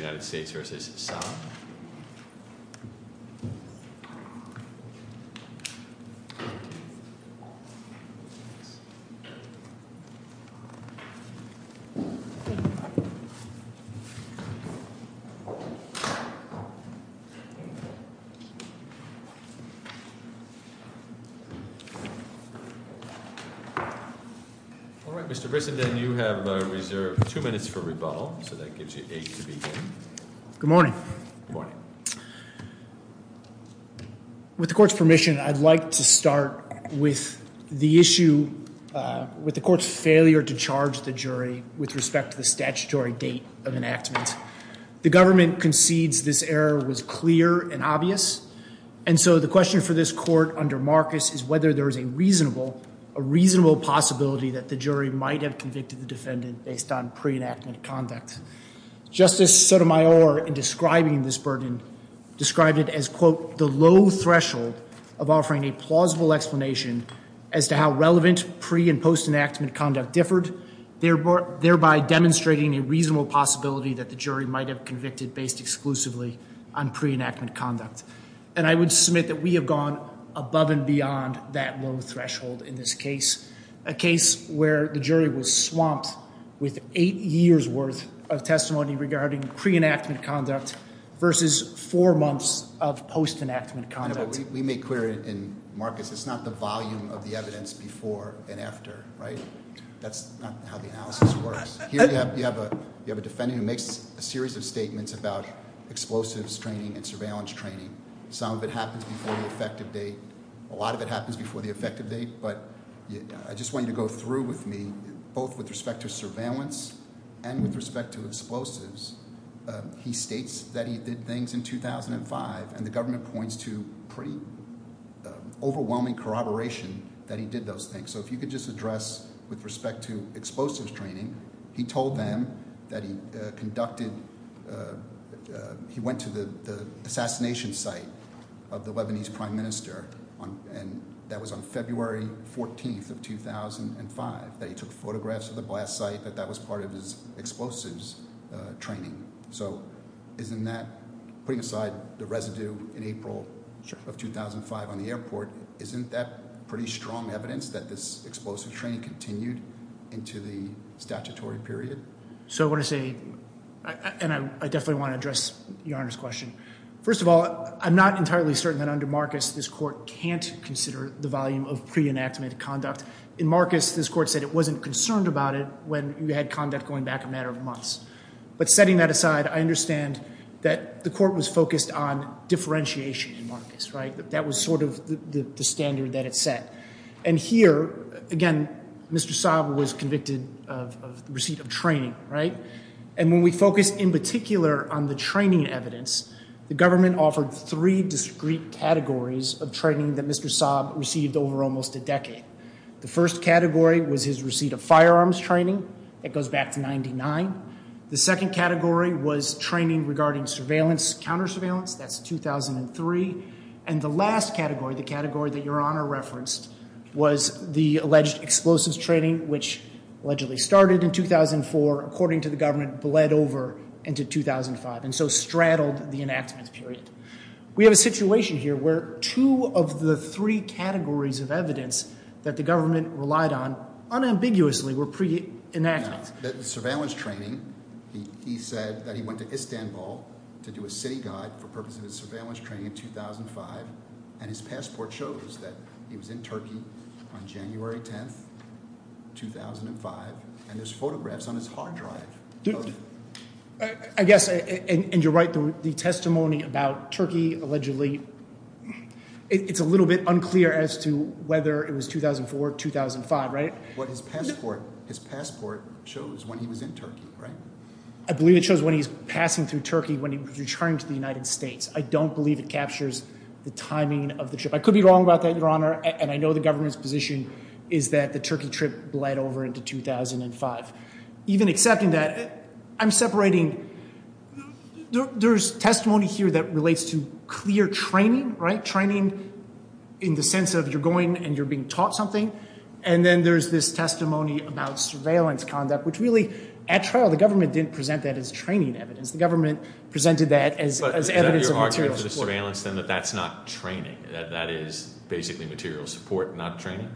All right, Mr. Bissenden, you have reserved two minutes for rebuttal, so that gives you Good morning. With the court's permission, I'd like to start with the issue with the court's failure to charge the jury with respect to the statutory date of enactment. The government concedes this error was clear and obvious. And so the question for this court under Marcus is whether there is a reasonable, a reasonable possibility that the jury might have convicted the defendant based on pre enactment conduct. Justice Sotomayor, in describing this burden, described it as, quote, the low threshold of offering a plausible explanation as to how relevant pre and post enactment conduct differed, thereby demonstrating a reasonable possibility that the jury might have convicted based exclusively on pre enactment conduct. And I would submit that we have gone above and beyond that low threshold in this case, a case where the jury was swamped with eight years worth of testimony regarding pre enactment conduct versus four months of post enactment conduct. We make clear in Marcus, it's not the volume of the evidence before and after, right? That's not how the analysis works. Here you have a defendant who makes a series of statements about explosives training and surveillance training. Some of it happens before the effective date. A lot of it happens before the effective date. But I just want you to go through with me both with respect to surveillance and with respect to explosives. He states that he did things in 2005, and the government points to pretty overwhelming corroboration that he did those things. So if you could just address with respect to explosives training, he told them that he conducted – he went to the assassination site of the Lebanese prime minister, and that was on February 14th of 2005, that he took photographs of the blast site, that that was part of his explosives training. So isn't that, putting aside the residue in April of 2005 on the airport, isn't that pretty strong evidence that this explosive training continued into the statutory period? So what I say, and I definitely want to address Your Honor's question. First of all, I'm not entirely certain that under Marcus this court can't consider the volume of pre-enactment conduct. In Marcus, this court said it wasn't concerned about it when you had conduct going back a matter of months. But setting that aside, I understand that the court was focused on differentiation in Marcus, right? That was sort of the standard that it set. And here, again, Mr. Saab was convicted of receipt of training, right? And when we focus in particular on the training evidence, the government offered three discrete categories of training that Mr. Saab received over almost a decade. The first category was his receipt of firearms training. It goes back to 99. The second category was training regarding surveillance, counter surveillance. That's 2003. And the last category, the category that Your Honor referenced, was the alleged explosives training, which allegedly started in 2004, according to the government, bled over into 2005, and so straddled the enactment period. We have a situation here where two of the three categories of evidence that the government relied on unambiguously were pre-enactments. Now, the surveillance training, he said that he went to Istanbul to do a city guide for purposes of surveillance training in 2005. And his passport shows that he was in Turkey on January 10th, 2005. And there's photographs on his hard drive. I guess, and you're right, the testimony about Turkey allegedly, it's a little bit unclear as to whether it was 2004, 2005, right? But his passport shows when he was in Turkey, right? I believe it shows when he was passing through Turkey when he was returning to the United States. I don't believe it captures the timing of the trip. I could be wrong about that, Your Honor, and I know the government's position is that the Turkey trip bled over into 2005. Even accepting that, I'm separating, there's testimony here that relates to clear training, right? Training in the sense of you're going and you're being taught something. And then there's this testimony about surveillance conduct, which really, at trial, the government didn't present that as training evidence. The government presented that as evidence of material support. But is that your argument for the surveillance, then, that that's not training, that that is basically material support, not training?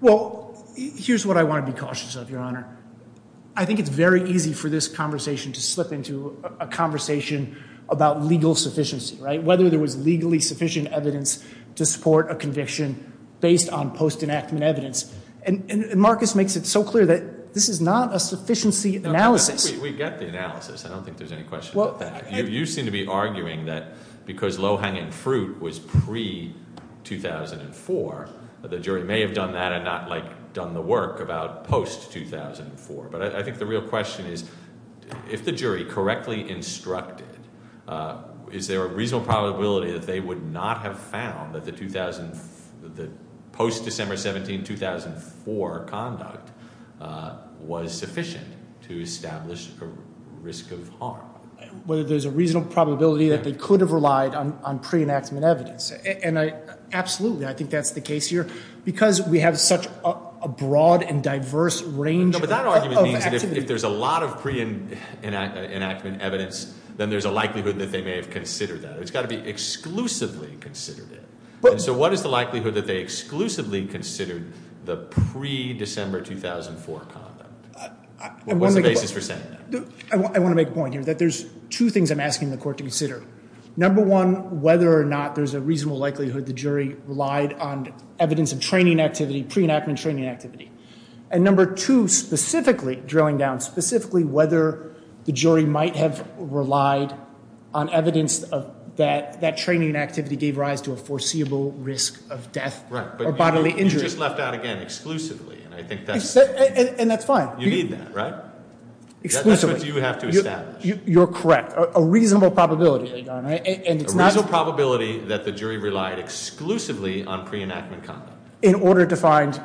Well, here's what I want to be cautious of, Your Honor. I think it's very easy for this conversation to slip into a conversation about legal sufficiency, right? Whether there was legally sufficient evidence to support a conviction based on post-enactment evidence. And Marcus makes it so clear that this is not a sufficiency analysis. We get the analysis. I don't think there's any question about that. You seem to be arguing that because low-hanging fruit was pre-2004, the jury may have done that and not done the work about post-2004. But I think the real question is, if the jury correctly instructed, is there a reasonable probability that they would not have found that the post-December 17, 2004 conduct was sufficient to establish a risk of harm? Whether there's a reasonable probability that they could have relied on pre-enactment evidence. And absolutely, I think that's the case here. Because we have such a broad and diverse range of activity. But that argument means that if there's a lot of pre-enactment evidence, then there's a likelihood that they may have considered that. It's got to be exclusively considered it. So what is the likelihood that they exclusively considered the pre-December 2004 conduct? What's the basis for saying that? I want to make a point here, that there's two things I'm asking the court to consider. Number one, whether or not there's a reasonable likelihood the jury relied on evidence of training activity, pre-enactment training activity. And number two, specifically, drilling down, specifically whether the jury might have relied on evidence that that training activity gave rise to a foreseeable risk of death or bodily injury. Right, but you just left out again, exclusively. And that's fine. You need that, right? Exclusively. That's what you have to establish. You're correct. A reasonable probability. A reasonable probability that the jury relied exclusively on pre-enactment conduct. In order to find,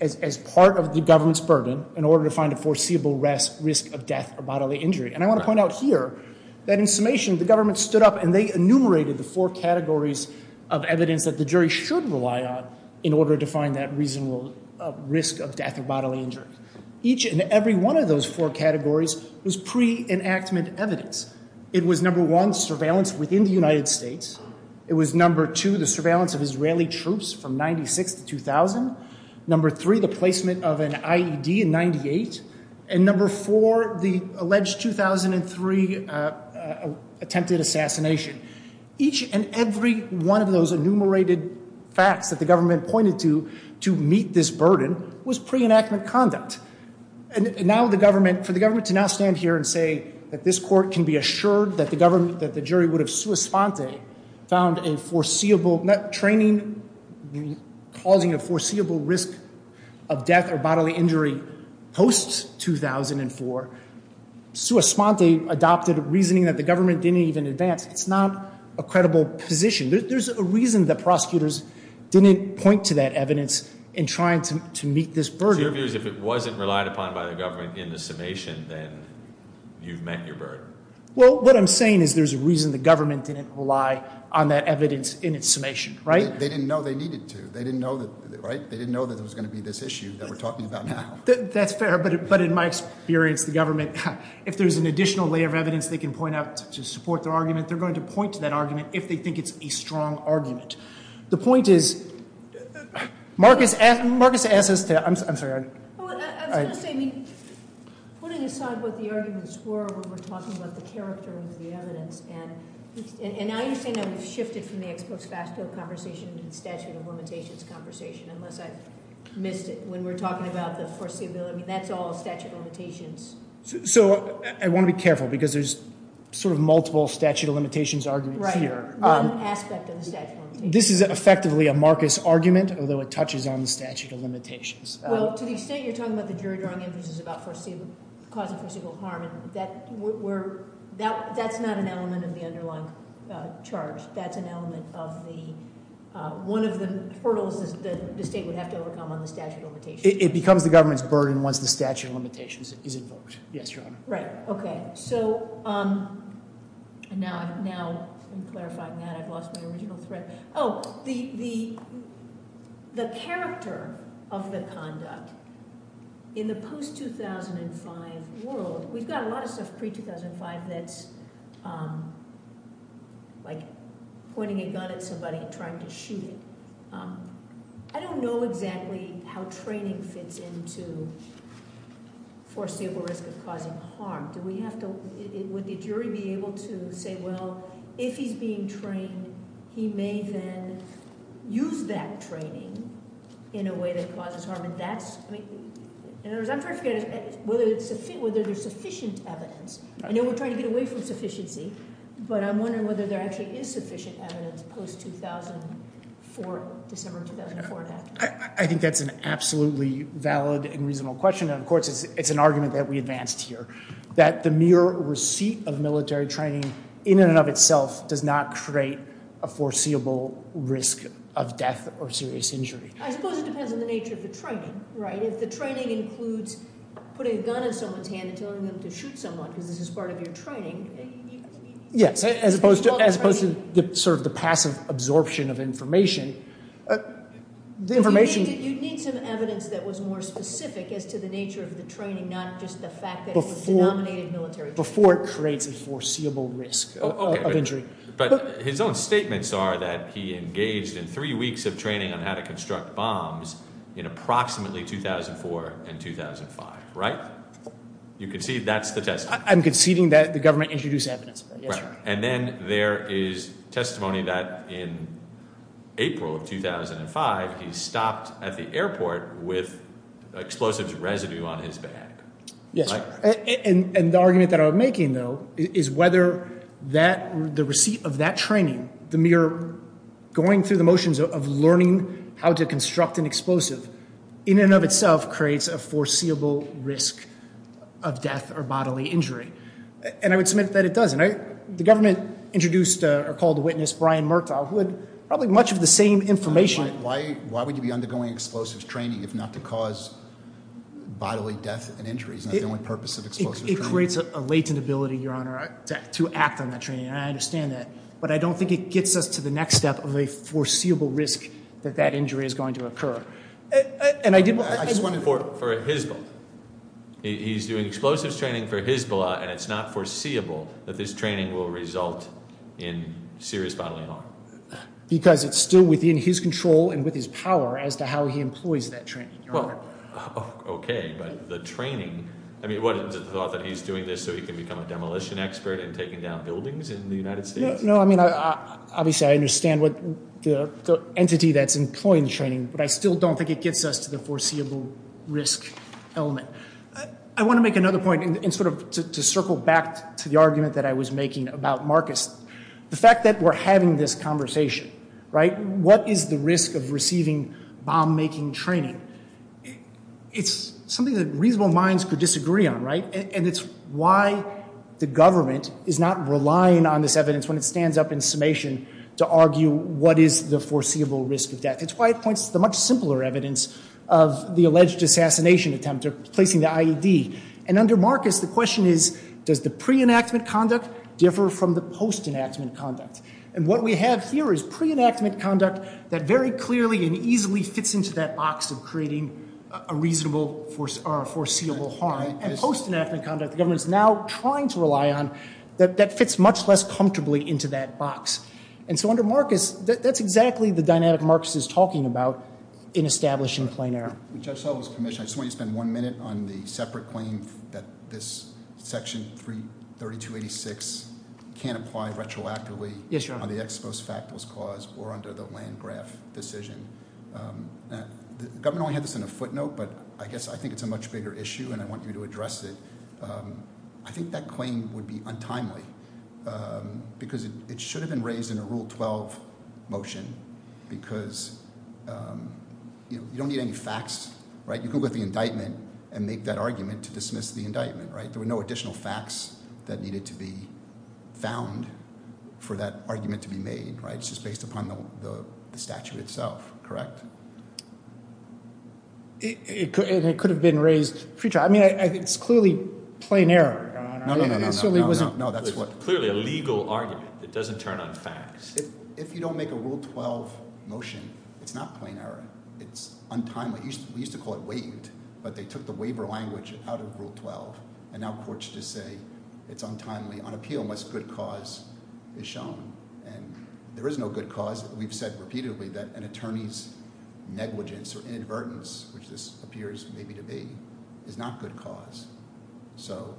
as part of the government's burden, in order to find a foreseeable risk of death or bodily injury. And I want to point out here, that in summation, the government stood up and they enumerated the four categories of evidence that the jury should rely on in order to find that reasonable risk of death or bodily injury. Each and every one of those four categories was pre-enactment evidence. It was number one, surveillance within the United States. It was number two, the surveillance of Israeli troops from 96 to 2000. Number three, the placement of an IED in 98. And number four, the alleged 2003 attempted assassination. Each and every one of those enumerated facts that the government pointed to, to meet this burden, was pre-enactment conduct. And now the government, for the government to now stand here and say that this court can be assured that the government, that the jury would have sua sponte, found a foreseeable, not training, causing a foreseeable risk of death or bodily injury post-2004. Sua sponte adopted reasoning that the government didn't even advance. It's not a credible position. There's a reason that prosecutors didn't point to that evidence in trying to meet this burden. So your view is if it wasn't relied upon by the government in the summation, then you've met your burden? Well, what I'm saying is there's a reason the government didn't rely on that evidence in its summation, right? They didn't know they needed to. They didn't know that, right? They didn't know that there was going to be this issue that we're talking about now. That's fair. But in my experience, the government, if there's an additional layer of evidence they can point out to support their argument, they're going to point to that argument if they think it's a strong argument. The point is, Marcus asked us to, I'm sorry. I was going to say, I mean, putting aside what the arguments were when we're talking about the character of the evidence. And now you're saying that we've shifted from the ex post facto conversation to the statute of limitations conversation, unless I missed it when we were talking about the foreseeability. That's all statute of limitations. So I want to be careful, because there's sort of multiple statute of limitations arguments here. Right, one aspect of the statute of limitations. This is effectively a Marcus argument, although it touches on the statute of limitations. Well, to the extent you're talking about the jury drawing inferences about causing foreseeable harm, that's not an element of the underlying charge. That's an element of the, one of the hurdles that the state would have to overcome on the statute of limitations. It becomes the government's burden once the statute of limitations is invoked. Yes, Your Honor. Right, okay. So now I'm clarifying that. I've lost my original thread. Oh, the character of the conduct in the post-2005 world, we've got a lot of stuff pre-2005 that's like pointing a gun at somebody and trying to shoot it. I don't know exactly how training fits into foreseeable risk of causing harm. Would the jury be able to say, well, if he's being trained, he may then use that training in a way that causes harm? In other words, I'm trying to figure out whether there's sufficient evidence. I know we're trying to get away from sufficiency, but I'm wondering whether there actually is sufficient evidence post-2004, December 2004. I think that's an absolutely valid and reasonable question. And, of course, it's an argument that we advanced here, that the mere receipt of military training in and of itself does not create a foreseeable risk of death or serious injury. I suppose it depends on the nature of the training, right? If the training includes putting a gun in someone's hand and telling them to shoot someone because this is part of your training. Yes, as opposed to sort of the passive absorption of information. You'd need some evidence that was more specific as to the nature of the training, not just the fact that it was denominated military training. Before it creates a foreseeable risk of injury. But his own statements are that he engaged in three weeks of training on how to construct bombs in approximately 2004 and 2005, right? You concede that's the testimony. I'm conceding that the government introduced evidence. And then there is testimony that in April of 2005, he stopped at the airport with explosives residue on his bag. And the argument that I'm making, though, is whether the receipt of that training, the mere going through the motions of learning how to construct an explosive, in and of itself creates a foreseeable risk of death or bodily injury. And I would submit that it doesn't. The government introduced or called a witness, Brian Murtaugh, who had probably much of the same information. Why would you be undergoing explosives training if not to cause bodily death and injuries? That's the only purpose of explosives training. It creates a latent ability, Your Honor, to act on that training. And I understand that. But I don't think it gets us to the next step of a foreseeable risk that that injury is going to occur. And I did want to— I just want to— For Hizball. He's doing explosives training for Hizball, and it's not foreseeable that this training will result in serious bodily harm. Because it's still within his control and with his power as to how he employs that training, Your Honor. Well, okay. But the training—I mean, what, is it the thought that he's doing this so he can become a demolition expert and taking down buildings in the United States? No, I mean, obviously, I understand the entity that's employing the training. But I still don't think it gets us to the foreseeable risk. I want to make another point, and sort of to circle back to the argument that I was making about Marcus. The fact that we're having this conversation, right, what is the risk of receiving bomb-making training? It's something that reasonable minds could disagree on, right? And it's why the government is not relying on this evidence when it stands up in summation to argue what is the foreseeable risk of death. It's why it points to the much simpler evidence of the alleged assassination attempt or placing the IED. And under Marcus, the question is, does the pre-enactment conduct differ from the post-enactment conduct? And what we have here is pre-enactment conduct that very clearly and easily fits into that box of creating a reasonable foreseeable harm. And post-enactment conduct, the government is now trying to rely on, that fits much less comfortably into that box. And so under Marcus, that's exactly the dynamic Marcus is talking about in establishing plain error. Judge Sullivan's commission, I just want you to spend one minute on the separate claim that this section 332-86 can't apply retroactively. Yes, Your Honor. On the ex post factus clause or under the Landgraf decision. The government only had this in a footnote, but I guess I think it's a much bigger issue, and I want you to address it. I think that claim would be untimely because it should have been raised in a Rule 12 motion because you don't need any facts. You can look at the indictment and make that argument to dismiss the indictment. There were no additional facts that needed to be found for that argument to be made. It's just based upon the statute itself, correct? It could have been raised future. I mean, it's clearly plain error, Your Honor. No, no, no. It's clearly a legal argument. It doesn't turn on facts. If you don't make a Rule 12 motion, it's not plain error. It's untimely. We used to call it waived, but they took the waiver language out of Rule 12. And now courts just say it's untimely on appeal unless good cause is shown. And there is no good cause. We've said repeatedly that an attorney's negligence or inadvertence, which this appears maybe to be, is not good cause. So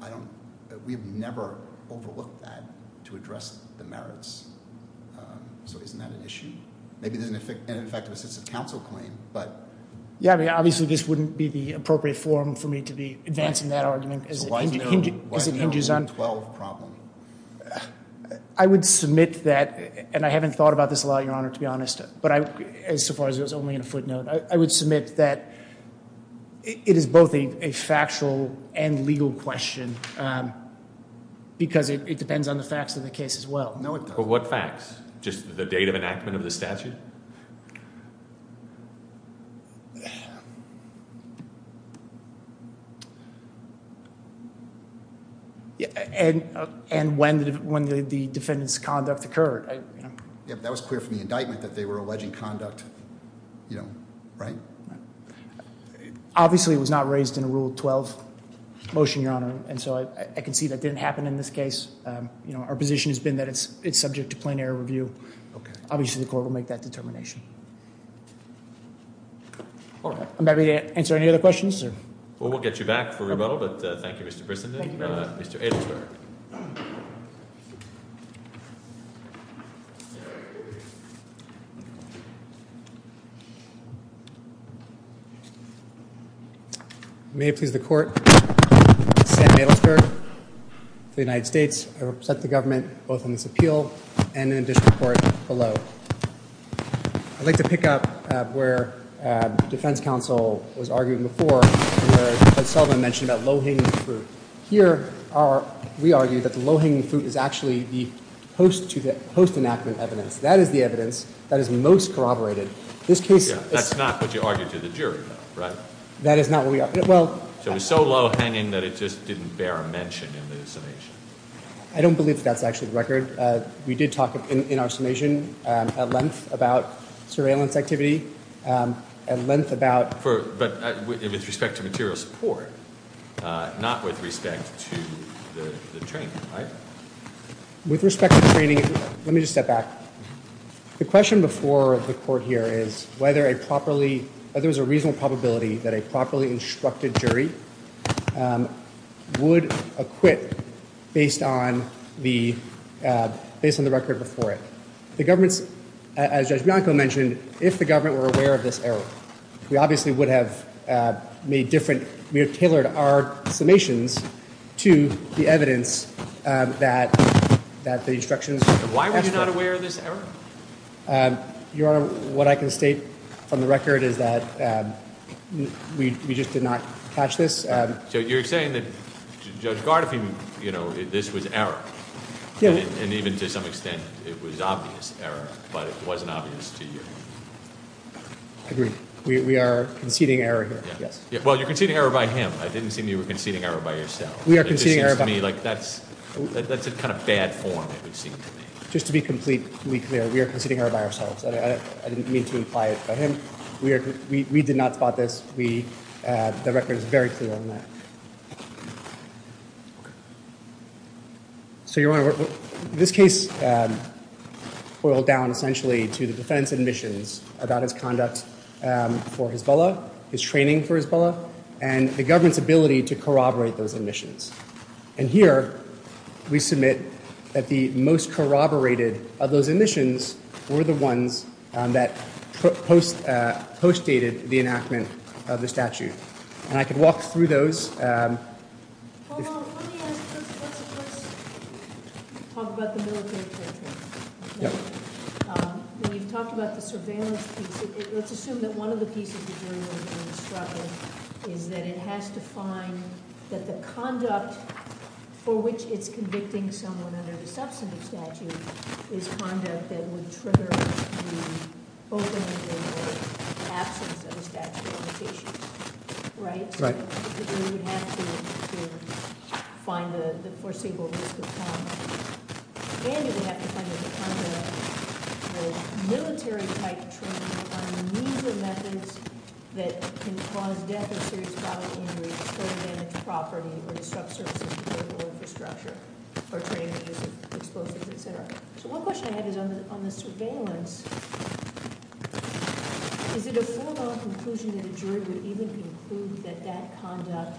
I don't—we've never overlooked that to address the merits. So isn't that an issue? Maybe there's an ineffective assistive counsel claim, but— Yeah, I mean, obviously this wouldn't be the appropriate forum for me to be advancing that argument as it hinges on— So why is there a Rule 12 problem? I would submit that—and I haven't thought about this a lot, Your Honor, to be honest, so far as it was only a footnote. I would submit that it is both a factual and legal question because it depends on the facts of the case as well. But what facts? Just the date of enactment of the statute? And when the defendant's conduct occurred? Yeah, but that was clear from the indictment that they were alleging conduct, you know, right? Obviously it was not raised in a Rule 12 motion, Your Honor. And so I can see that didn't happen in this case. Our position has been that it's subject to plain error review. Obviously the court will make that decision. All right. I'm happy to answer any other questions. Well, we'll get you back for rebuttal, but thank you, Mr. Brissenden. Mr. Adelsberg. May it please the Court, Sam Adelsberg of the United States. I represent the government both on this appeal and in addition to the court below. I'd like to pick up where defense counsel was arguing before where Judge Sullivan mentioned about low-hanging fruit. Here, we argue that the low-hanging fruit is actually the post-enactment evidence. That is the evidence that is most corroborated. That's not what you argued to the jury, though, right? That is not what we argued. It was so low-hanging that it just didn't bear a mention in the summation. I don't believe that that's actually the record. We did talk in our summation at length about surveillance activity, at length about— But with respect to material support, not with respect to the training, right? With respect to training, let me just step back. The question before the court here is whether a properly— whether there's a reasonable probability that a properly instructed jury would acquit based on the record before it. The government's—as Judge Bianco mentioned, if the government were aware of this error, we obviously would have made different—we would have tailored our summations to the evidence that the instructions— Why were you not aware of this error? Your Honor, what I can state from the record is that we just did not catch this. So you're saying that Judge Gardiffian, you know, this was error. And even to some extent, it was obvious error, but it wasn't obvious to you. Agreed. We are conceding error here, yes. Well, you're conceding error by him. I didn't seem you were conceding error by yourself. It just seems to me like that's a kind of bad form, it would seem to me. Just to be completely clear, we are conceding error by ourselves. I didn't mean to imply it by him. We did not spot this. The record is very clear on that. Okay. So, Your Honor, this case boiled down essentially to the defendant's admissions about his conduct for his villa, his training for his villa, and the government's ability to corroborate those admissions. And here, we submit that the most corroborated of those admissions were the ones that postdated the enactment of the statute. And I could walk through those. Hold on. Let me ask a question. Let's talk about the military torture. Yep. We've talked about the surveillance piece. Let's assume that one of the pieces that you're going to struggle is that it has to find that the conduct for which it's convicting someone under the substantive statute is conduct that would trigger the opening of the absence of a statute of limitations. Right? The jury would have to find the foreseeable risk of conduct. And it would have to find the conduct of military-type training on the use of methods that can cause death or serious bodily injuries, further damage to property or disrupt services, political infrastructure, or trade in the use of explosives, et cetera. So one question I have is on the surveillance. Is it a formal conclusion that a jury would even conclude that that conduct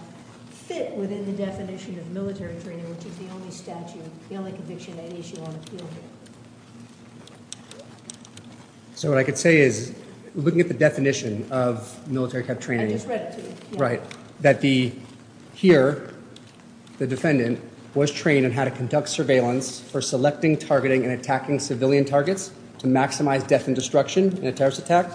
fit within the definition of military training, which is the only statute, the only conviction that issue on appeal here? So what I could say is, looking at the definition of military-type training. I just read it to you. Right. That the ‑‑ here, the defendant was trained on how to conduct surveillance for selecting, targeting, and attacking civilian targets to maximize death and destruction in a terrorist attack.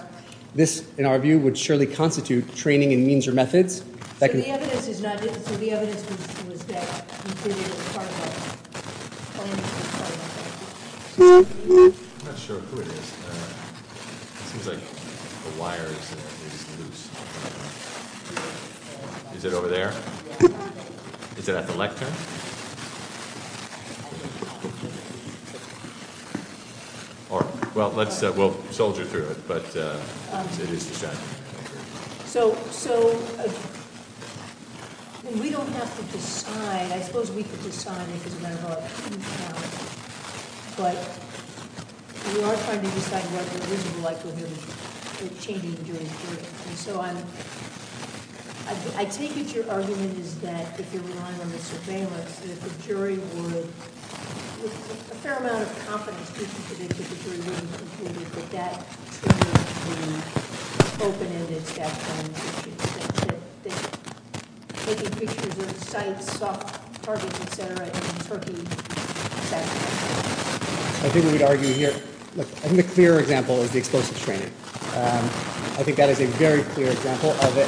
This, in our view, would surely constitute training in means or methods that can ‑‑ So the evidence is not ‑‑ so the evidence was that it was part of a ‑‑ I'm not sure who it is. It seems like the wire is loose. Is it over there? Is it at the lectern? Well, let's soldier through it. So we don't have to decide. I suppose we could decide. But we are trying to decide what it would be like to change the jury's jury. I take it your argument is that, if you're relying on the surveillance, that the jury would, with a fair amount of confidence that the jury would have concluded that that training would be open-ended. Taking pictures of sites, soft targets, et cetera, in Turkey. I think we would argue here. I think the clear example is the explosives training. I think that is a very clear example of the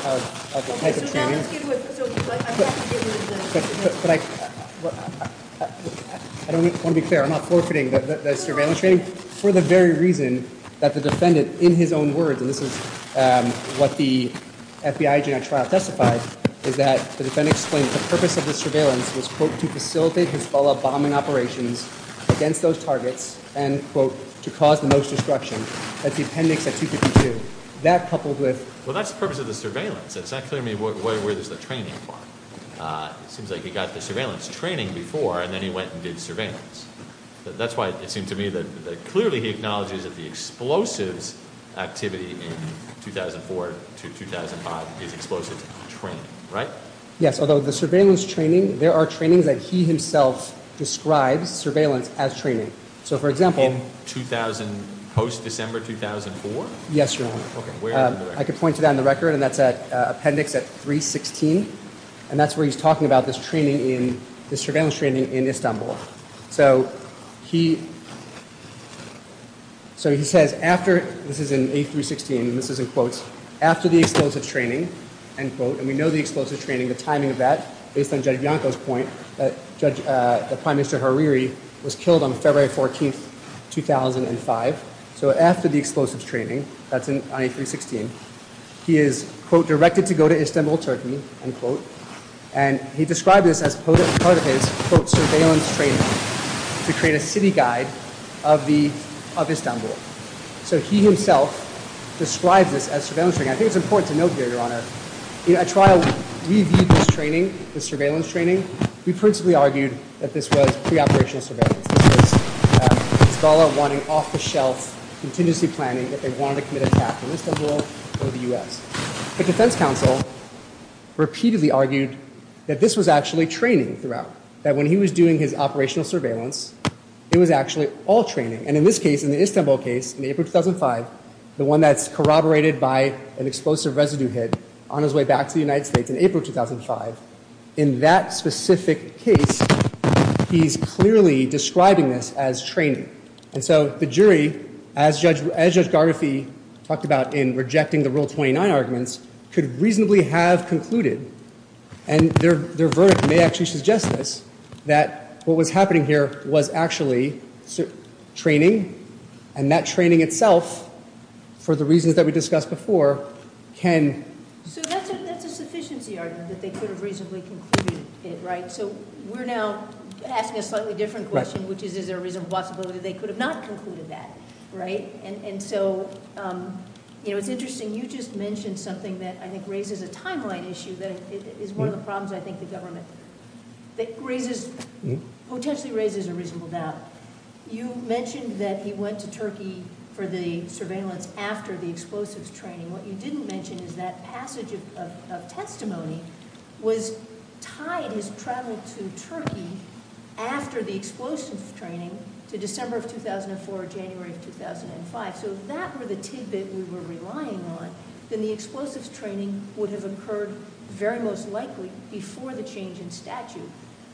type of training. Okay, so now let's get to it. But I don't want to be fair. I'm not forfeiting the surveillance training. For the very reason that the defendant, in his own words, and this is what the FBI genetic trial testified, is that the defendant explained that the purpose of the surveillance was, quote, to facilitate Hezbollah bombing operations against those targets and, quote, to cause the most destruction. That's the appendix at 252. That coupled with... Well, that's the purpose of the surveillance. It's not clear to me where there's the training part. It seems like he got the surveillance training before and then he went and did surveillance. That's why it seemed to me that clearly he acknowledges that the explosives activity in 2004 to 2005 is explosives training, right? Yes, although the surveillance training, there are trainings that he himself describes surveillance as training. So, for example... In 2000, post-December 2004? Yes, Your Honor. Okay, where in the record? I can point to that in the record, and that's at appendix at 316, and that's where he's talking about this training in, this surveillance training in Istanbul. So, he says after, this is in A316, and this is in quotes, after the explosives training, end quote, and we know the explosives training, the timing of that, based on Judge Bianco's point that the Prime Minister Hariri was killed on February 14, 2005. So, after the explosives training, that's on A316, he is, quote, directed to go to Istanbul Turkey, end quote, and he described this as part of his, quote, surveillance training to create a city guide of Istanbul. So, he himself describes this as surveillance training. I think it's important to note here, Your Honor, you know, at trial, we viewed this training, this surveillance training, we principally argued that this was pre-operational surveillance. This is, it's all about wanting off-the-shelf contingency planning, that they wanted to commit an attack on Istanbul or the U.S. The Defense Council repeatedly argued that this was actually training throughout, that when he was doing his operational surveillance, it was actually all training, and in this case, in the Istanbul case, in April 2005, the one that's corroborated by an explosive residue hit on his way back to the United States in April 2005, in that specific case, he's clearly describing this as training. And so, the jury, as Judge Gargafee talked about in rejecting the Rule 29 arguments, could reasonably have concluded, and their verdict may actually suggest this, that what was happening here was actually training, and that training itself, for the reasons that we discussed before, can- So, that's a sufficiency argument, that they could have reasonably concluded it, right? So, we're now asking a slightly different question, which is, is there a reasonable possibility that they could have not concluded that, right? And so, you know, it's interesting, you just mentioned something that I think raises a timeline issue that is one of the problems, I think, the government, that raises, potentially raises a reasonable doubt. You mentioned that he went to Turkey for the surveillance after the explosives training. What you didn't mention is that passage of testimony was tied, his travel to Turkey after the explosives training to December of 2004 or January of 2005. So, if that were the tidbit we were relying on, then the explosives training would have occurred very most likely before the change in statute.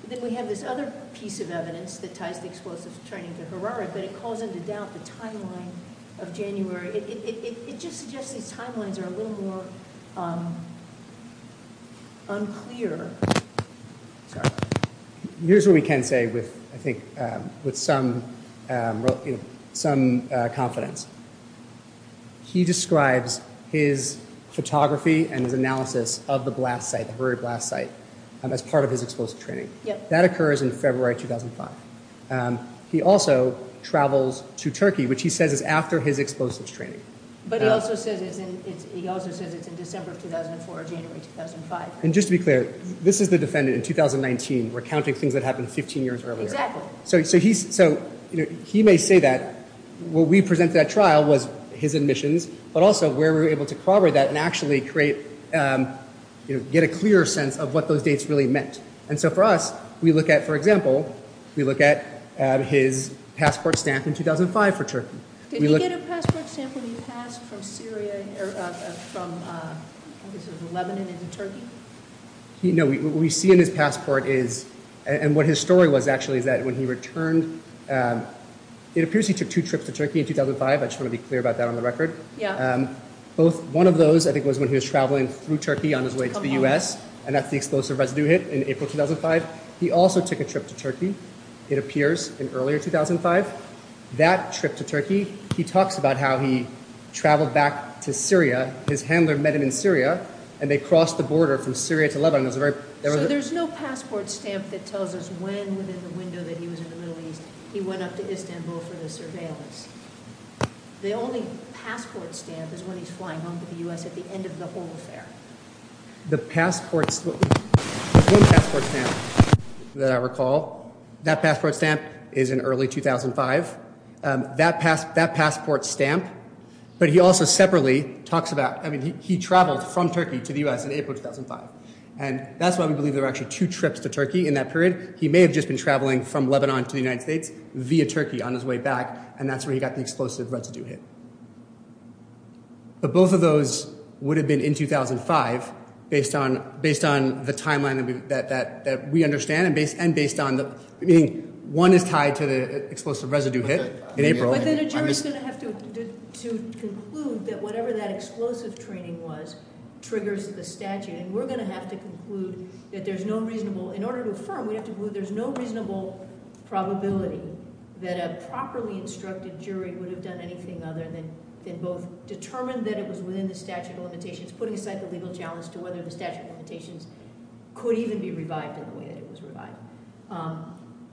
Then we have this other piece of evidence that ties the explosives training to Harare, but it calls into doubt the timeline of January. It just suggests these timelines are a little more unclear. Here's what we can say with, I think, with some confidence. He describes his photography and his analysis of the blast site, the Harare blast site, as part of his explosive training. That occurs in February 2005. He also travels to Turkey, which he says is after his explosives training. But he also says it's in December of 2004 or January 2005. Just to be clear, this is the defendant in 2019. We're counting things that happened 15 years earlier. He may say that. What we present to that trial was his admissions, but also where we were able to corroborate that and actually get a clearer sense of what those dates really meant. For us, we look at, for example, we look at his passport stamp in 2005 for Turkey. Did he get a passport stamp when he passed from Syria, from Lebanon into Turkey? No, what we see in his passport is, and what his story was actually is that when he returned, it appears he took two trips to Turkey in 2005. I just want to be clear about that on the record. Yeah. One of those, I think, was when he was traveling through Turkey on his way to the U.S., and that's the explosive residue hit in April 2005. He also took a trip to Turkey, it appears, in earlier 2005. That trip to Turkey, he talks about how he traveled back to Syria. His handler met him in Syria, and they crossed the border from Syria to Lebanon. So there's no passport stamp that tells us when, within the window that he was in the Middle East, he went up to Istanbul for the surveillance. The only passport stamp is when he's flying home to the U.S. at the end of the whole affair. There's one passport stamp that I recall. That passport stamp is in early 2005. That passport stamp, but he also separately talks about, I mean, he traveled from Turkey to the U.S. in April 2005, and that's why we believe there were actually two trips to Turkey in that period. He may have just been traveling from Lebanon to the United States via Turkey on his way back, and that's where he got the explosive residue hit. But both of those would have been in 2005 based on the timeline that we understand and based on the meaning one is tied to the explosive residue hit in April. But then a jury's going to have to conclude that whatever that explosive training was triggers the statute, and we're going to have to conclude that there's no reasonable – in order to affirm, we have to conclude there's no reasonable probability that a properly instructed jury would have done anything other than both determine that it was within the statute of limitations, putting aside the legal challenge to whether the statute of limitations could even be revived in the way that it was revived,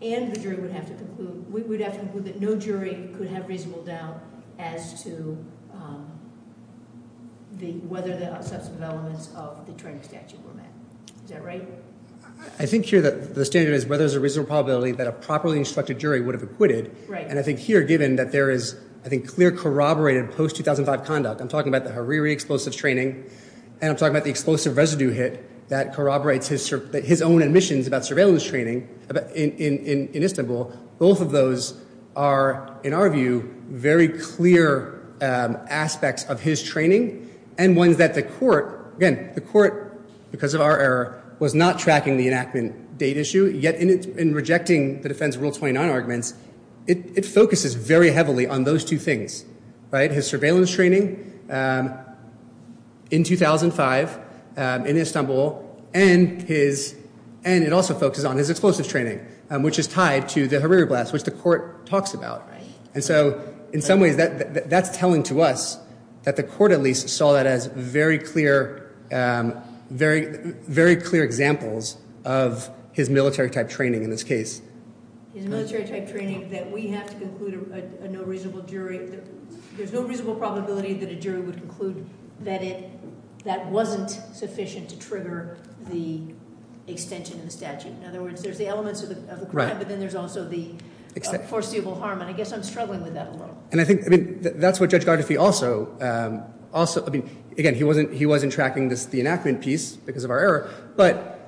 and the jury would have to conclude – we would have to conclude that no jury could have reasonable doubt as to whether the substantive elements of the training statute were met. Is that right? I think here that the standard is whether there's a reasonable probability that a properly instructed jury would have acquitted, and I think here given that there is, I think, clear corroborated post-2005 conduct. I'm talking about the Hariri explosive training, and I'm talking about the explosive residue hit that corroborates his own admissions about surveillance training in Istanbul. Both of those are, in our view, very clear aspects of his training and ones that the court – again, the court, because of our error, was not tracking the enactment date issue, yet in rejecting the defense rule 29 arguments, it focuses very heavily on those two things, right? His surveillance training in 2005 in Istanbul and his – and it also focuses on his explosive training, which is tied to the Hariri blast, which the court talks about. And so in some ways that's telling to us that the court at least saw that as very clear – very clear examples of his military-type training in this case. His military-type training that we have to conclude a no reasonable jury – there's no reasonable probability that a jury would conclude that it – that wasn't sufficient to trigger the extension of the statute. In other words, there's the elements of the crime, but then there's also the foreseeable harm, and I guess I'm struggling with that a little. And I think – I mean, that's what Judge Gardefee also – I mean, again, he wasn't tracking the enactment piece because of our error, but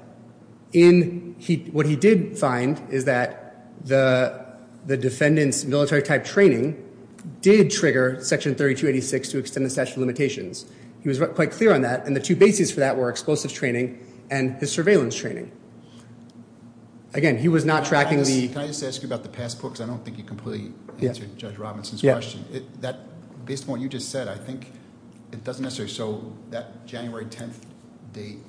in – what he did find is that the defendant's military-type training did trigger Section 3286 to extend the statute of limitations. He was quite clear on that, and the two bases for that were explosive training and his surveillance training. Again, he was not tracking the – because I don't think you completely answered Judge Robinson's question. Based on what you just said, I think it doesn't necessarily show that January 10th date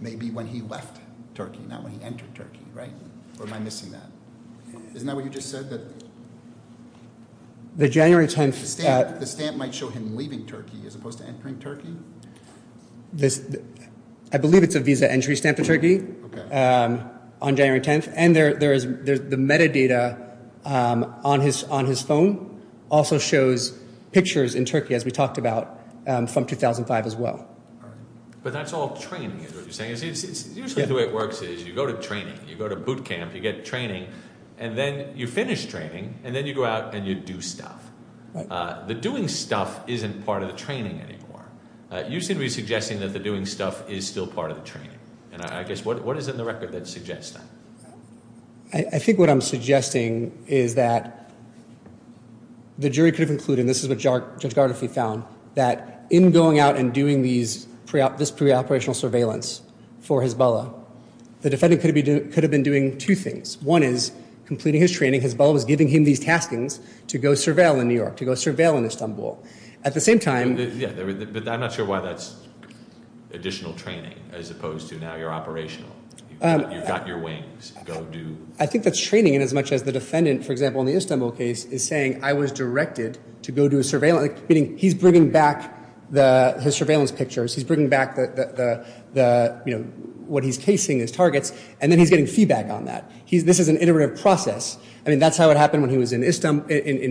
may be when he left Turkey, not when he entered Turkey, right? Or am I missing that? Isn't that what you just said? The January 10th – The stamp might show him leaving Turkey as opposed to entering Turkey? I believe it's a visa entry stamp to Turkey on January 10th, and there is – the metadata on his phone also shows pictures in Turkey, as we talked about, from 2005 as well. But that's all training is what you're saying. Usually the way it works is you go to training, you go to boot camp, you get training, and then you finish training, and then you go out and you do stuff. The doing stuff isn't part of the training anymore. You seem to be suggesting that the doing stuff is still part of the training, and I guess what is it in the record that suggests that? I think what I'm suggesting is that the jury could have concluded, and this is what Judge Gardolfi found, that in going out and doing this preoperational surveillance for Hezbollah, the defendant could have been doing two things. One is completing his training. Hezbollah was giving him these taskings to go surveil in New York, to go surveil in Istanbul. At the same time – I'm not sure why that's additional training as opposed to now you're operational. You've got your wings. I think that's training inasmuch as the defendant, for example, in the Istanbul case, is saying I was directed to go do a surveillance, meaning he's bringing back his surveillance pictures, he's bringing back what he's casing as targets, and then he's getting feedback on that. This is an iterative process. That's how it happened when he was in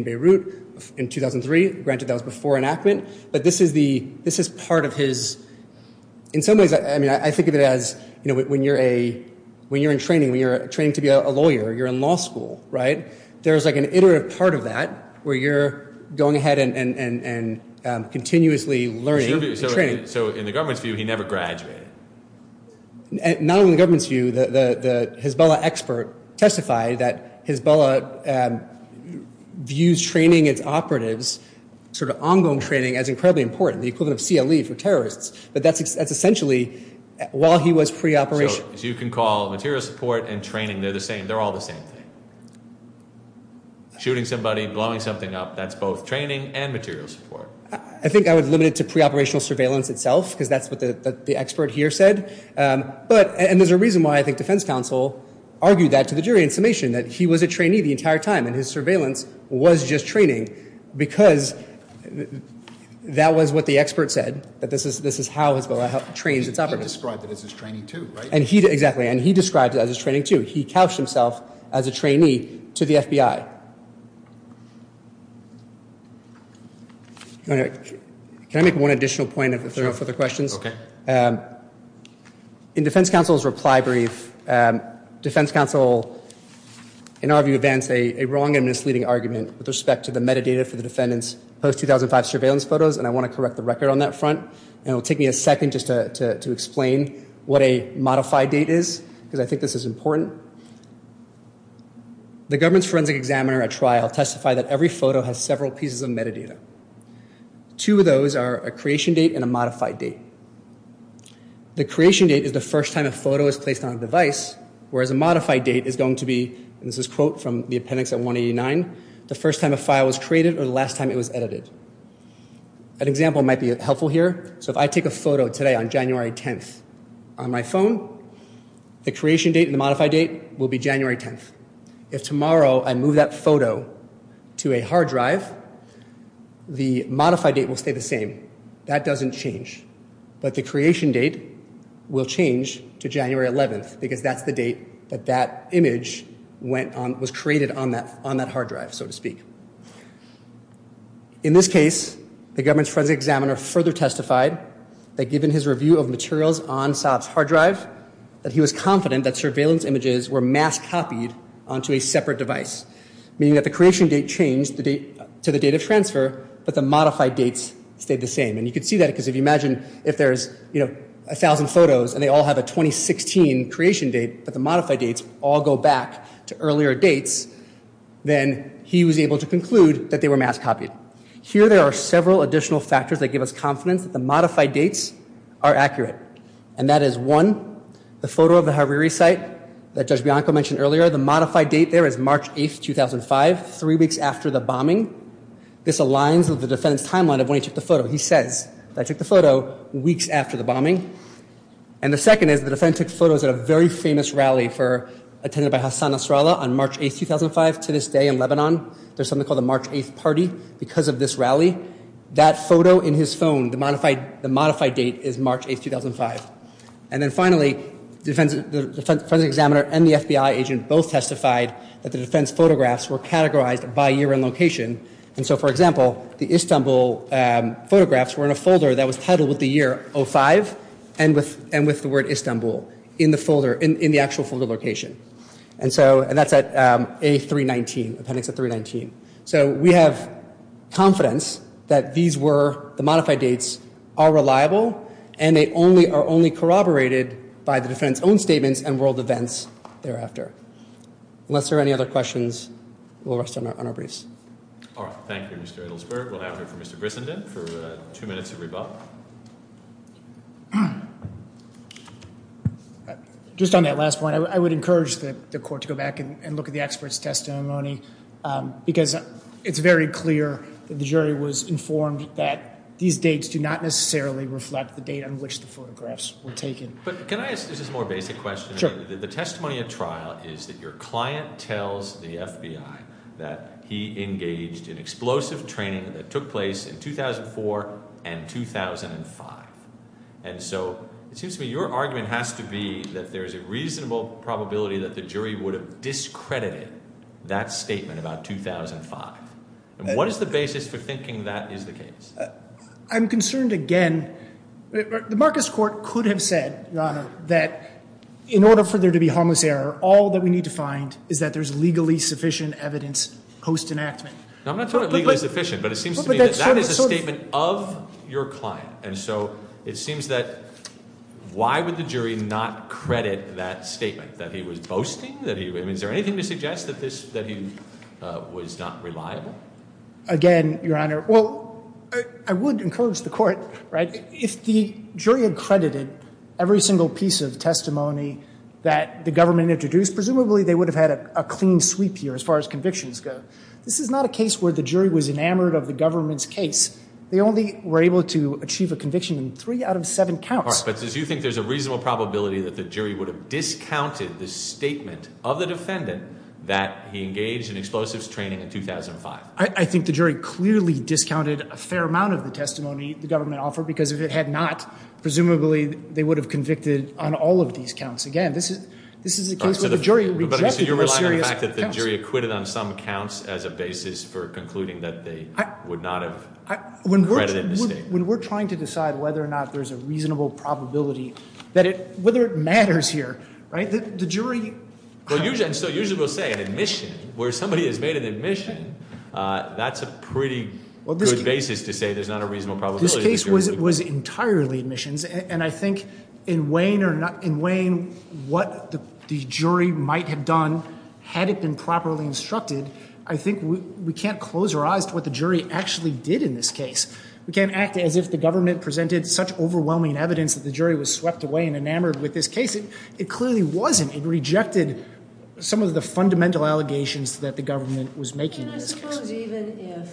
Beirut in 2003. Granted that was before enactment, but this is part of his – in some ways I think of it as when you're in training, when you're training to be a lawyer, you're in law school. There's like an iterative part of that where you're going ahead and continuously learning and training. So in the government's view, he never graduated? Not only in the government's view. The Hezbollah expert testified that Hezbollah views training its operatives, sort of ongoing training, as incredibly important, the equivalent of CLE for terrorists. But that's essentially while he was pre-operational. So as you can call material support and training, they're the same. They're all the same thing. Shooting somebody, blowing something up, that's both training and material support. I think I would limit it to pre-operational surveillance itself because that's what the expert here said. And there's a reason why I think defense counsel argued that to the jury in summation, that he was a trainee the entire time and his surveillance was just training because that was what the expert said, that this is how Hezbollah trains its operatives. He described it as his training too, right? Exactly, and he described it as his training too. He couched himself as a trainee to the FBI. Can I make one additional point if there are no further questions? Okay. In defense counsel's reply brief, defense counsel, in our view, advanced a wrong and misleading argument with respect to the metadata for the defendant's post-2005 surveillance photos, and I want to correct the record on that front. It will take me a second just to explain what a modified date is because I think this is important. The government's forensic examiner at trial testified that every photo has several pieces of metadata. Two of those are a creation date and a modified date. The creation date is the first time a photo is placed on a device, whereas a modified date is going to be, and this is a quote from the appendix at 189, the first time a file was created or the last time it was edited. An example might be helpful here. So if I take a photo today on January 10th on my phone, the creation date and the modified date will be January 10th. If tomorrow I move that photo to a hard drive, the modified date will stay the same. That doesn't change. But the creation date will change to January 11th because that's the date that that image was created on that hard drive, so to speak. In this case, the government's forensic examiner further testified that given his review of materials on Saab's hard drive, that he was confident that surveillance images were mass copied onto a separate device, meaning that the creation date changed to the date of transfer, but the modified dates stayed the same. And you can see that because if you imagine if there's, you know, a thousand photos and they all have a 2016 creation date, but the modified dates all go back to earlier dates, then he was able to conclude that they were mass copied. Here there are several additional factors that give us confidence that the modified dates are accurate, and that is one, the photo of the Hariri site that Judge Bianco mentioned earlier. The modified date there is March 8th, 2005, three weeks after the bombing. This aligns with the defendant's timeline of when he took the photo. He says that he took the photo weeks after the bombing. And the second is the defendant took photos at a very famous rally attended by Hassan Nasrallah on March 8th, 2005. To this day in Lebanon, there's something called the March 8th party because of this rally. That photo in his phone, the modified date is March 8th, 2005. And then finally, the defense examiner and the FBI agent both testified that the defense photographs were categorized by year and location. And so, for example, the Istanbul photographs were in a folder that was titled with the year 05 and with the word Istanbul in the actual folder location. And that's at A319, appendix A319. So we have confidence that these were the modified dates are reliable and they are only corroborated by the defense own statements and world events thereafter. Unless there are any other questions, we'll rest on our briefs. All right. Thank you, Mr. Edelsberg. We'll have it for Mr. Grissenden for two minutes to rebut. Just on that last point, I would encourage the court to go back and look at the expert's testimony because it's very clear that the jury was informed that these dates do not necessarily reflect the date on which the photographs were taken. But can I ask this more basic question? The testimony at trial is that your client tells the FBI that he engaged in explosive training that took place in 2004 and 2005. And so it seems to me your argument has to be that there's a reasonable probability that the jury would have discredited that statement about 2005. And what is the basis for thinking that is the case? I'm concerned again. The Marcus Court could have said that in order for there to be harmless error, all that we need to find is that there's legally sufficient evidence post-enactment. I'm not talking legally sufficient, but it seems to me that that is a statement of your client. And so it seems that why would the jury not credit that statement that he was boasting? I mean, is there anything to suggest that he was not reliable? Again, Your Honor, well, I would encourage the court, right, if the jury accredited every single piece of testimony that the government introduced, presumably they would have had a clean sweep here as far as convictions go. This is not a case where the jury was enamored of the government's case. They only were able to achieve a conviction in three out of seven counts. But do you think there's a reasonable probability that the jury would have discounted the statement of the defendant that he engaged in explosives training in 2005? I think the jury clearly discounted a fair amount of the testimony the government offered because if it had not, presumably they would have convicted on all of these counts. Again, this is a case where the jury rejected all serious counts. When we're trying to decide whether or not there's a reasonable probability, whether it matters here, right, the jury Well, usually we'll say an admission. Where somebody has made an admission, that's a pretty good basis to say there's not a reasonable probability. This case was entirely admissions. And I think in weighing what the jury might have done had it been properly instructed, I think we can't close our eyes to what the jury actually did in this case. We can't act as if the government presented such overwhelming evidence that the jury was swept away and enamored with this case. It clearly wasn't. It rejected some of the fundamental allegations that the government was making in this case. And I suppose even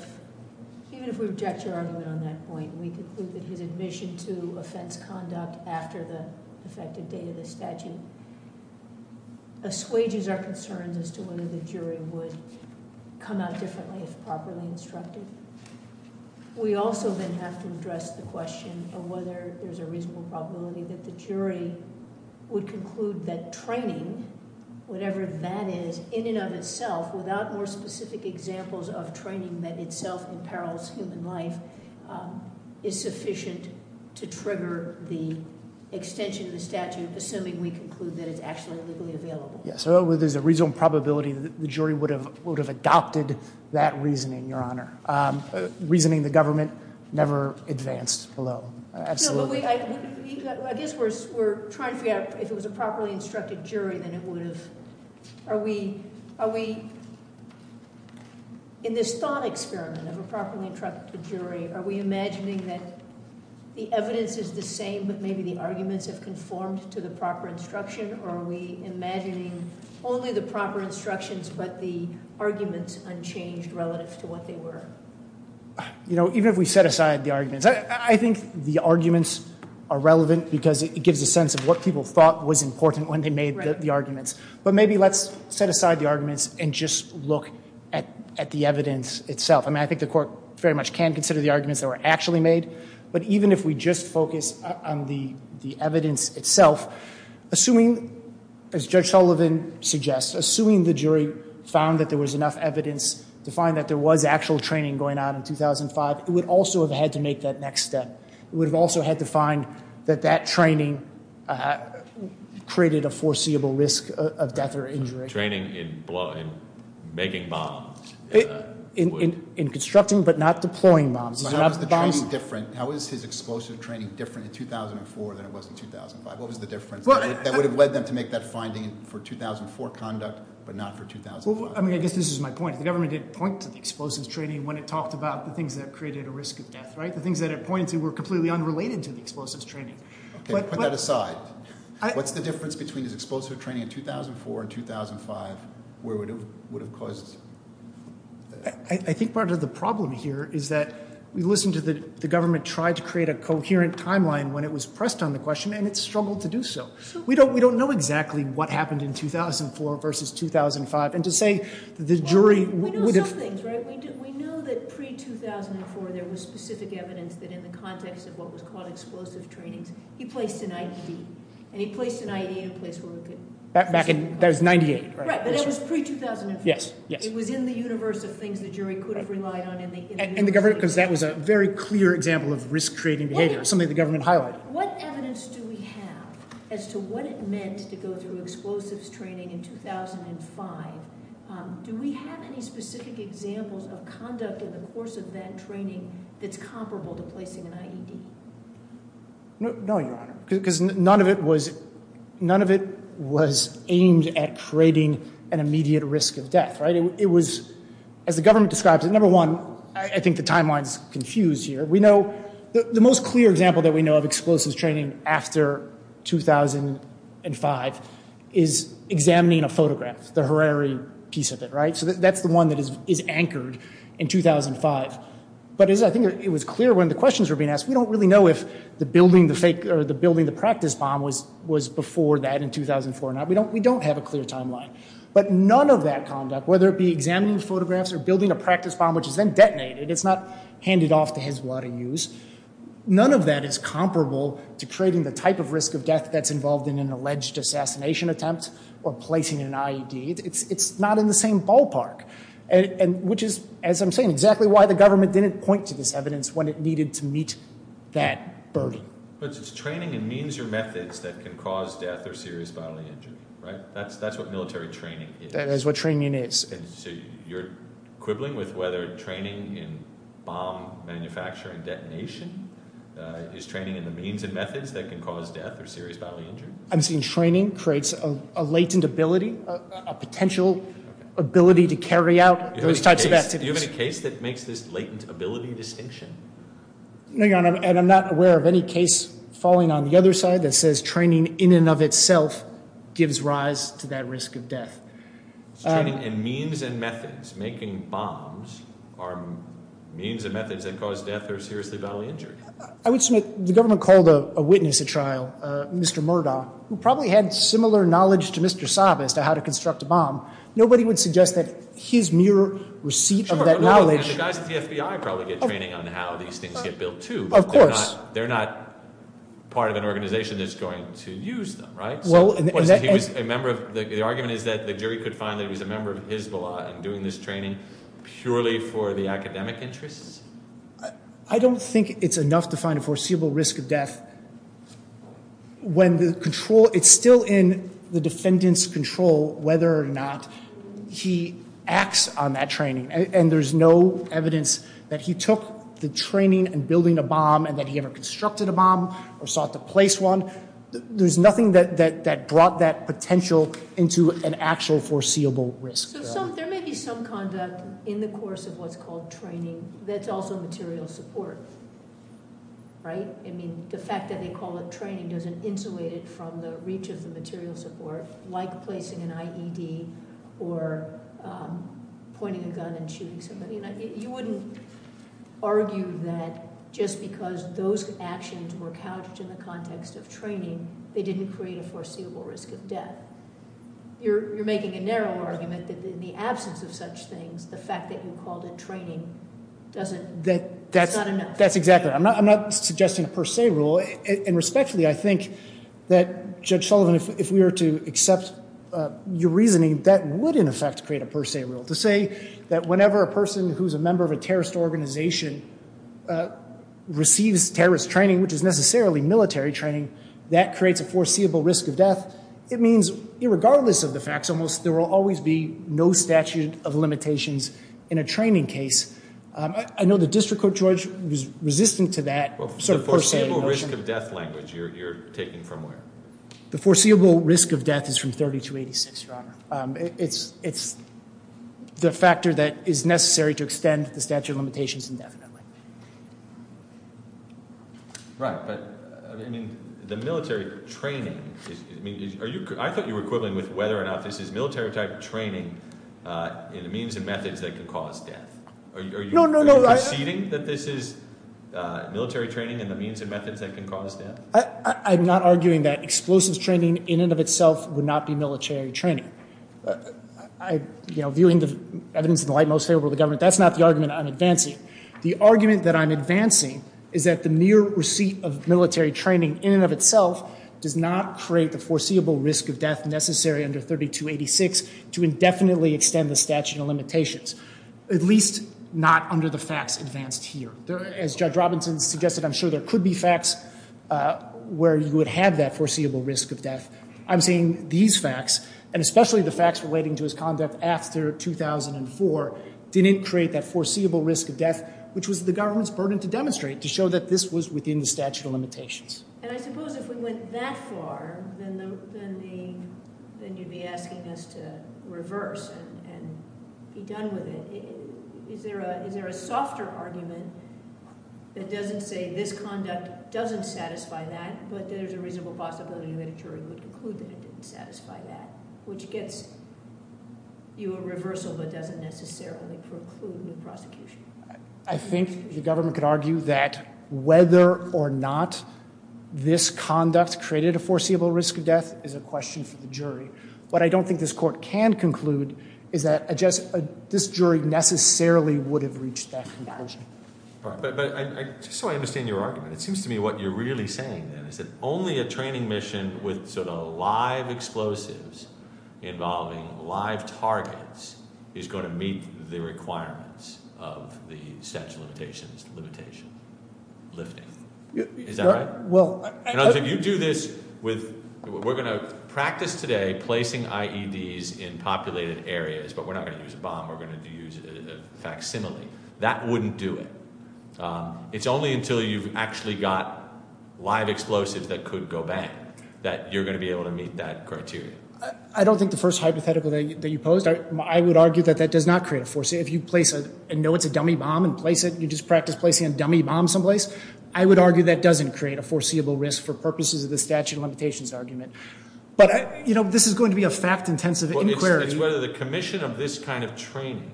if we reject your argument on that point, we conclude that his admission to offense conduct after the effective date of the statute assuages our concerns as to whether the jury would come out differently if properly instructed. We also then have to address the question of whether there's a reasonable probability that the jury would conclude that training, whatever that is, in and of itself, without more specific examples of training that itself imperils human life, is sufficient to trigger the extension of the statute, assuming we conclude that it's actually legally available. So there's a reasonable probability that the jury would have adopted that reasoning, Your Honor. Reasoning the government never advanced below. Absolutely. I guess we're trying to figure out if it was a properly instructed jury, then it would have. Are we, in this thought experiment of a properly instructed jury, are we imagining that the evidence is the same, but maybe the arguments have conformed to the proper instruction? Or are we imagining only the proper instructions, but the arguments unchanged relative to what they were? You know, even if we set aside the arguments, I think the arguments are relevant because it gives a sense of what people thought was important when they made the arguments. But maybe let's set aside the arguments and just look at the evidence itself. I mean, I think the court very much can consider the arguments that were actually made. But even if we just focus on the evidence itself, assuming, as Judge Sullivan suggests, assuming the jury found that there was enough evidence to find that there was actual training going on in 2005, it would also have had to make that next step. It would have also had to find that that training created a foreseeable risk of death or injury. Training in making bombs. In constructing, but not deploying bombs. So how is the training different? How is his explosive training different in 2004 than it was in 2005? What was the difference that would have led them to make that finding for 2004 conduct, but not for 2005? I mean, I guess this is my point. The government did point to the explosives training when it talked about the things that created a risk of death, right? The things that it pointed to were completely unrelated to the explosives training. Put that aside. What's the difference between his explosive training in 2004 and 2005 where it would have caused? I think part of the problem here is that we listened to the government try to create a coherent timeline when it was pressed on the question, and it struggled to do so. We don't know exactly what happened in 2004 versus 2005. And to say the jury would have- that in the context of what was called explosive trainings, he placed an IED. And he placed an IED in a place where we could- Back in, that was 98, right? Right, but that was pre-2005. Yes, yes. It was in the universe of things the jury could have relied on in the- And the government, because that was a very clear example of risk-creating behavior, something the government highlighted. What evidence do we have as to what it meant to go through explosives training in 2005? Do we have any specific examples of conduct in the course of that training that's comparable to placing an IED? No, Your Honor, because none of it was- none of it was aimed at creating an immediate risk of death, right? It was- as the government describes it, number one, I think the timeline's confused here. We know- the most clear example that we know of explosives training after 2005 is examining a photograph, the Harare piece of it, right? So that's the one that is anchored in 2005. But I think it was clear when the questions were being asked, we don't really know if the building the practice bomb was before that in 2004 or not. We don't have a clear timeline. But none of that conduct, whether it be examining photographs or building a practice bomb which is then detonated, it's not handed off to Hezbollah to use, none of that is comparable to creating the type of risk of death that's involved in an alleged assassination attempt or placing an IED. It's not in the same ballpark, which is, as I'm saying, exactly why the government didn't point to this evidence when it needed to meet that burden. But it's training in means or methods that can cause death or serious bodily injury, right? That's what military training is. That is what training is. So you're quibbling with whether training in bomb manufacturing detonation is training in the means and methods that can cause death or serious bodily injury? I'm saying training creates a latent ability, a potential ability to carry out those types of activities. Do you have any case that makes this latent ability distinction? Hang on. I'm not aware of any case falling on the other side that says training in and of itself gives rise to that risk of death. It's training in means and methods. Making bombs are means and methods that cause death or serious bodily injury. I would submit the government called a witness at trial, Mr. Murdaugh, who probably had similar knowledge to Mr. Saab as to how to construct a bomb. Nobody would suggest that his mere receipt of that knowledge— The guys at the FBI probably get training on how these things get built, too. Of course. But they're not part of an organization that's going to use them, right? The argument is that the jury could find that he was a member of Hizballah in doing this training purely for the academic interests? I don't think it's enough to find a foreseeable risk of death when the control— it's still in the defendant's control whether or not he acts on that training. And there's no evidence that he took the training in building a bomb and that he ever constructed a bomb or sought to place one. There's nothing that brought that potential into an actual foreseeable risk. So there may be some conduct in the course of what's called training that's also material support, right? I mean, the fact that they call it training doesn't insulate it from the reach of the material support, like placing an IED or pointing a gun and shooting somebody. You wouldn't argue that just because those actions were couched in the context of training, they didn't create a foreseeable risk of death. You're making a narrow argument that in the absence of such things, the fact that you called it training doesn't— That's exactly—I'm not suggesting a per se rule. And respectfully, I think that, Judge Sullivan, if we were to accept your reasoning, that would, in effect, create a per se rule. To say that whenever a person who's a member of a terrorist organization receives terrorist training, which is necessarily military training, that creates a foreseeable risk of death, it means, irregardless of the facts almost, there will always be no statute of limitations in a training case. I know the district court judge was resistant to that sort of per se— The foreseeable risk of death language, you're taking from where? The foreseeable risk of death is from 3286, Your Honor. It's the factor that is necessary to extend the statute of limitations indefinitely. Right, but, I mean, the military training is—I mean, are you— I thought you were equivalent with whether or not this is military-type training in the means and methods that can cause death. Are you— No, no, no, I— Are you proceeding that this is military training in the means and methods that can cause death? I'm not arguing that explosives training in and of itself would not be military training. You know, viewing the evidence in the light most favorable to the government, that's not the argument I'm advancing. The argument that I'm advancing is that the mere receipt of military training in and of itself does not create the foreseeable risk of death necessary under 3286 to indefinitely extend the statute of limitations, at least not under the facts advanced here. As Judge Robinson suggested, I'm sure there could be facts where you would have that foreseeable risk of death. I'm saying these facts, and especially the facts relating to his conduct after 2004, didn't create that foreseeable risk of death, which was the government's burden to demonstrate, to show that this was within the statute of limitations. And I suppose if we went that far, then you'd be asking us to reverse and be done with it. Is there a softer argument that doesn't say this conduct doesn't satisfy that, but there's a reasonable possibility that a jury would conclude that it didn't satisfy that, which gets you a reversal but doesn't necessarily preclude a prosecution? I think the government could argue that whether or not this conduct created a foreseeable risk of death is a question for the jury. What I don't think this court can conclude is that this jury necessarily would have reached that conclusion. But just so I understand your argument, it seems to me what you're really saying, then, is that only a training mission with sort of live explosives involving live targets is going to meet the requirements of the statute of limitations limitation lifting. Is that right? If you do this with, we're going to practice today placing IEDs in populated areas, but we're not going to use a bomb. We're going to use a facsimile. That wouldn't do it. It's only until you've actually got live explosives that could go bang that you're going to be able to meet that criteria. I don't think the first hypothetical that you posed, I would argue that that does not create a foreseeable risk. If you know it's a dummy bomb and you just practice placing a dummy bomb someplace, I would argue that doesn't create a foreseeable risk for purposes of the statute of limitations argument. But this is going to be a fact-intensive inquiry. It's whether the commission of this kind of training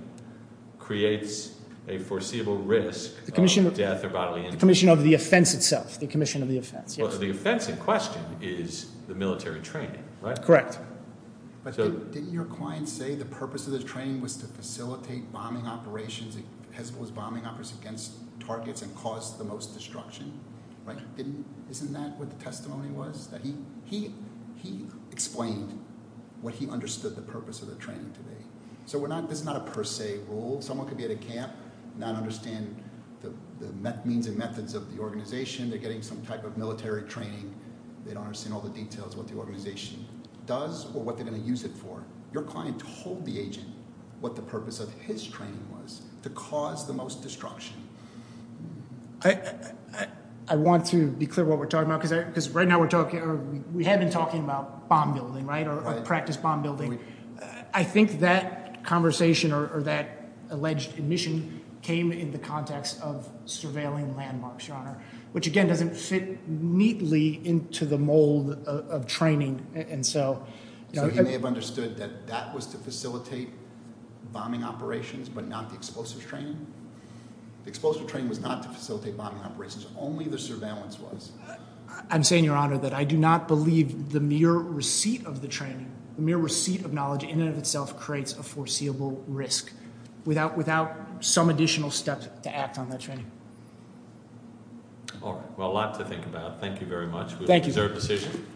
creates a foreseeable risk of death or bodily injury. The commission of the offense itself, the commission of the offense, yes. Well, the offense in question is the military training, right? Correct. But didn't your client say the purpose of the training was to facilitate bombing operations, was bombing operations against targets and cause the most destruction? Isn't that what the testimony was? He explained what he understood the purpose of the training to be. So this is not a per se rule. Someone could be at a camp and not understand the means and methods of the organization. They're getting some type of military training. They don't understand all the details of what the organization does or what they're going to use it for. Your client told the agent what the purpose of his training was to cause the most destruction. I want to be clear what we're talking about because right now we're talking about bomb building, right, or practice bomb building. I think that conversation or that alleged admission came in the context of surveilling landmarks, Your Honor, which, again, doesn't fit neatly into the mold of training. So he may have understood that that was to facilitate bombing operations but not the explosive training? The explosive training was not to facilitate bombing operations. Only the surveillance was. I'm saying, Your Honor, that I do not believe the mere receipt of the training, the mere receipt of knowledge in and of itself creates a foreseeable risk without some additional steps to act on that training. All right. Well, a lot to think about. Thank you very much. Thank you. Is there a decision?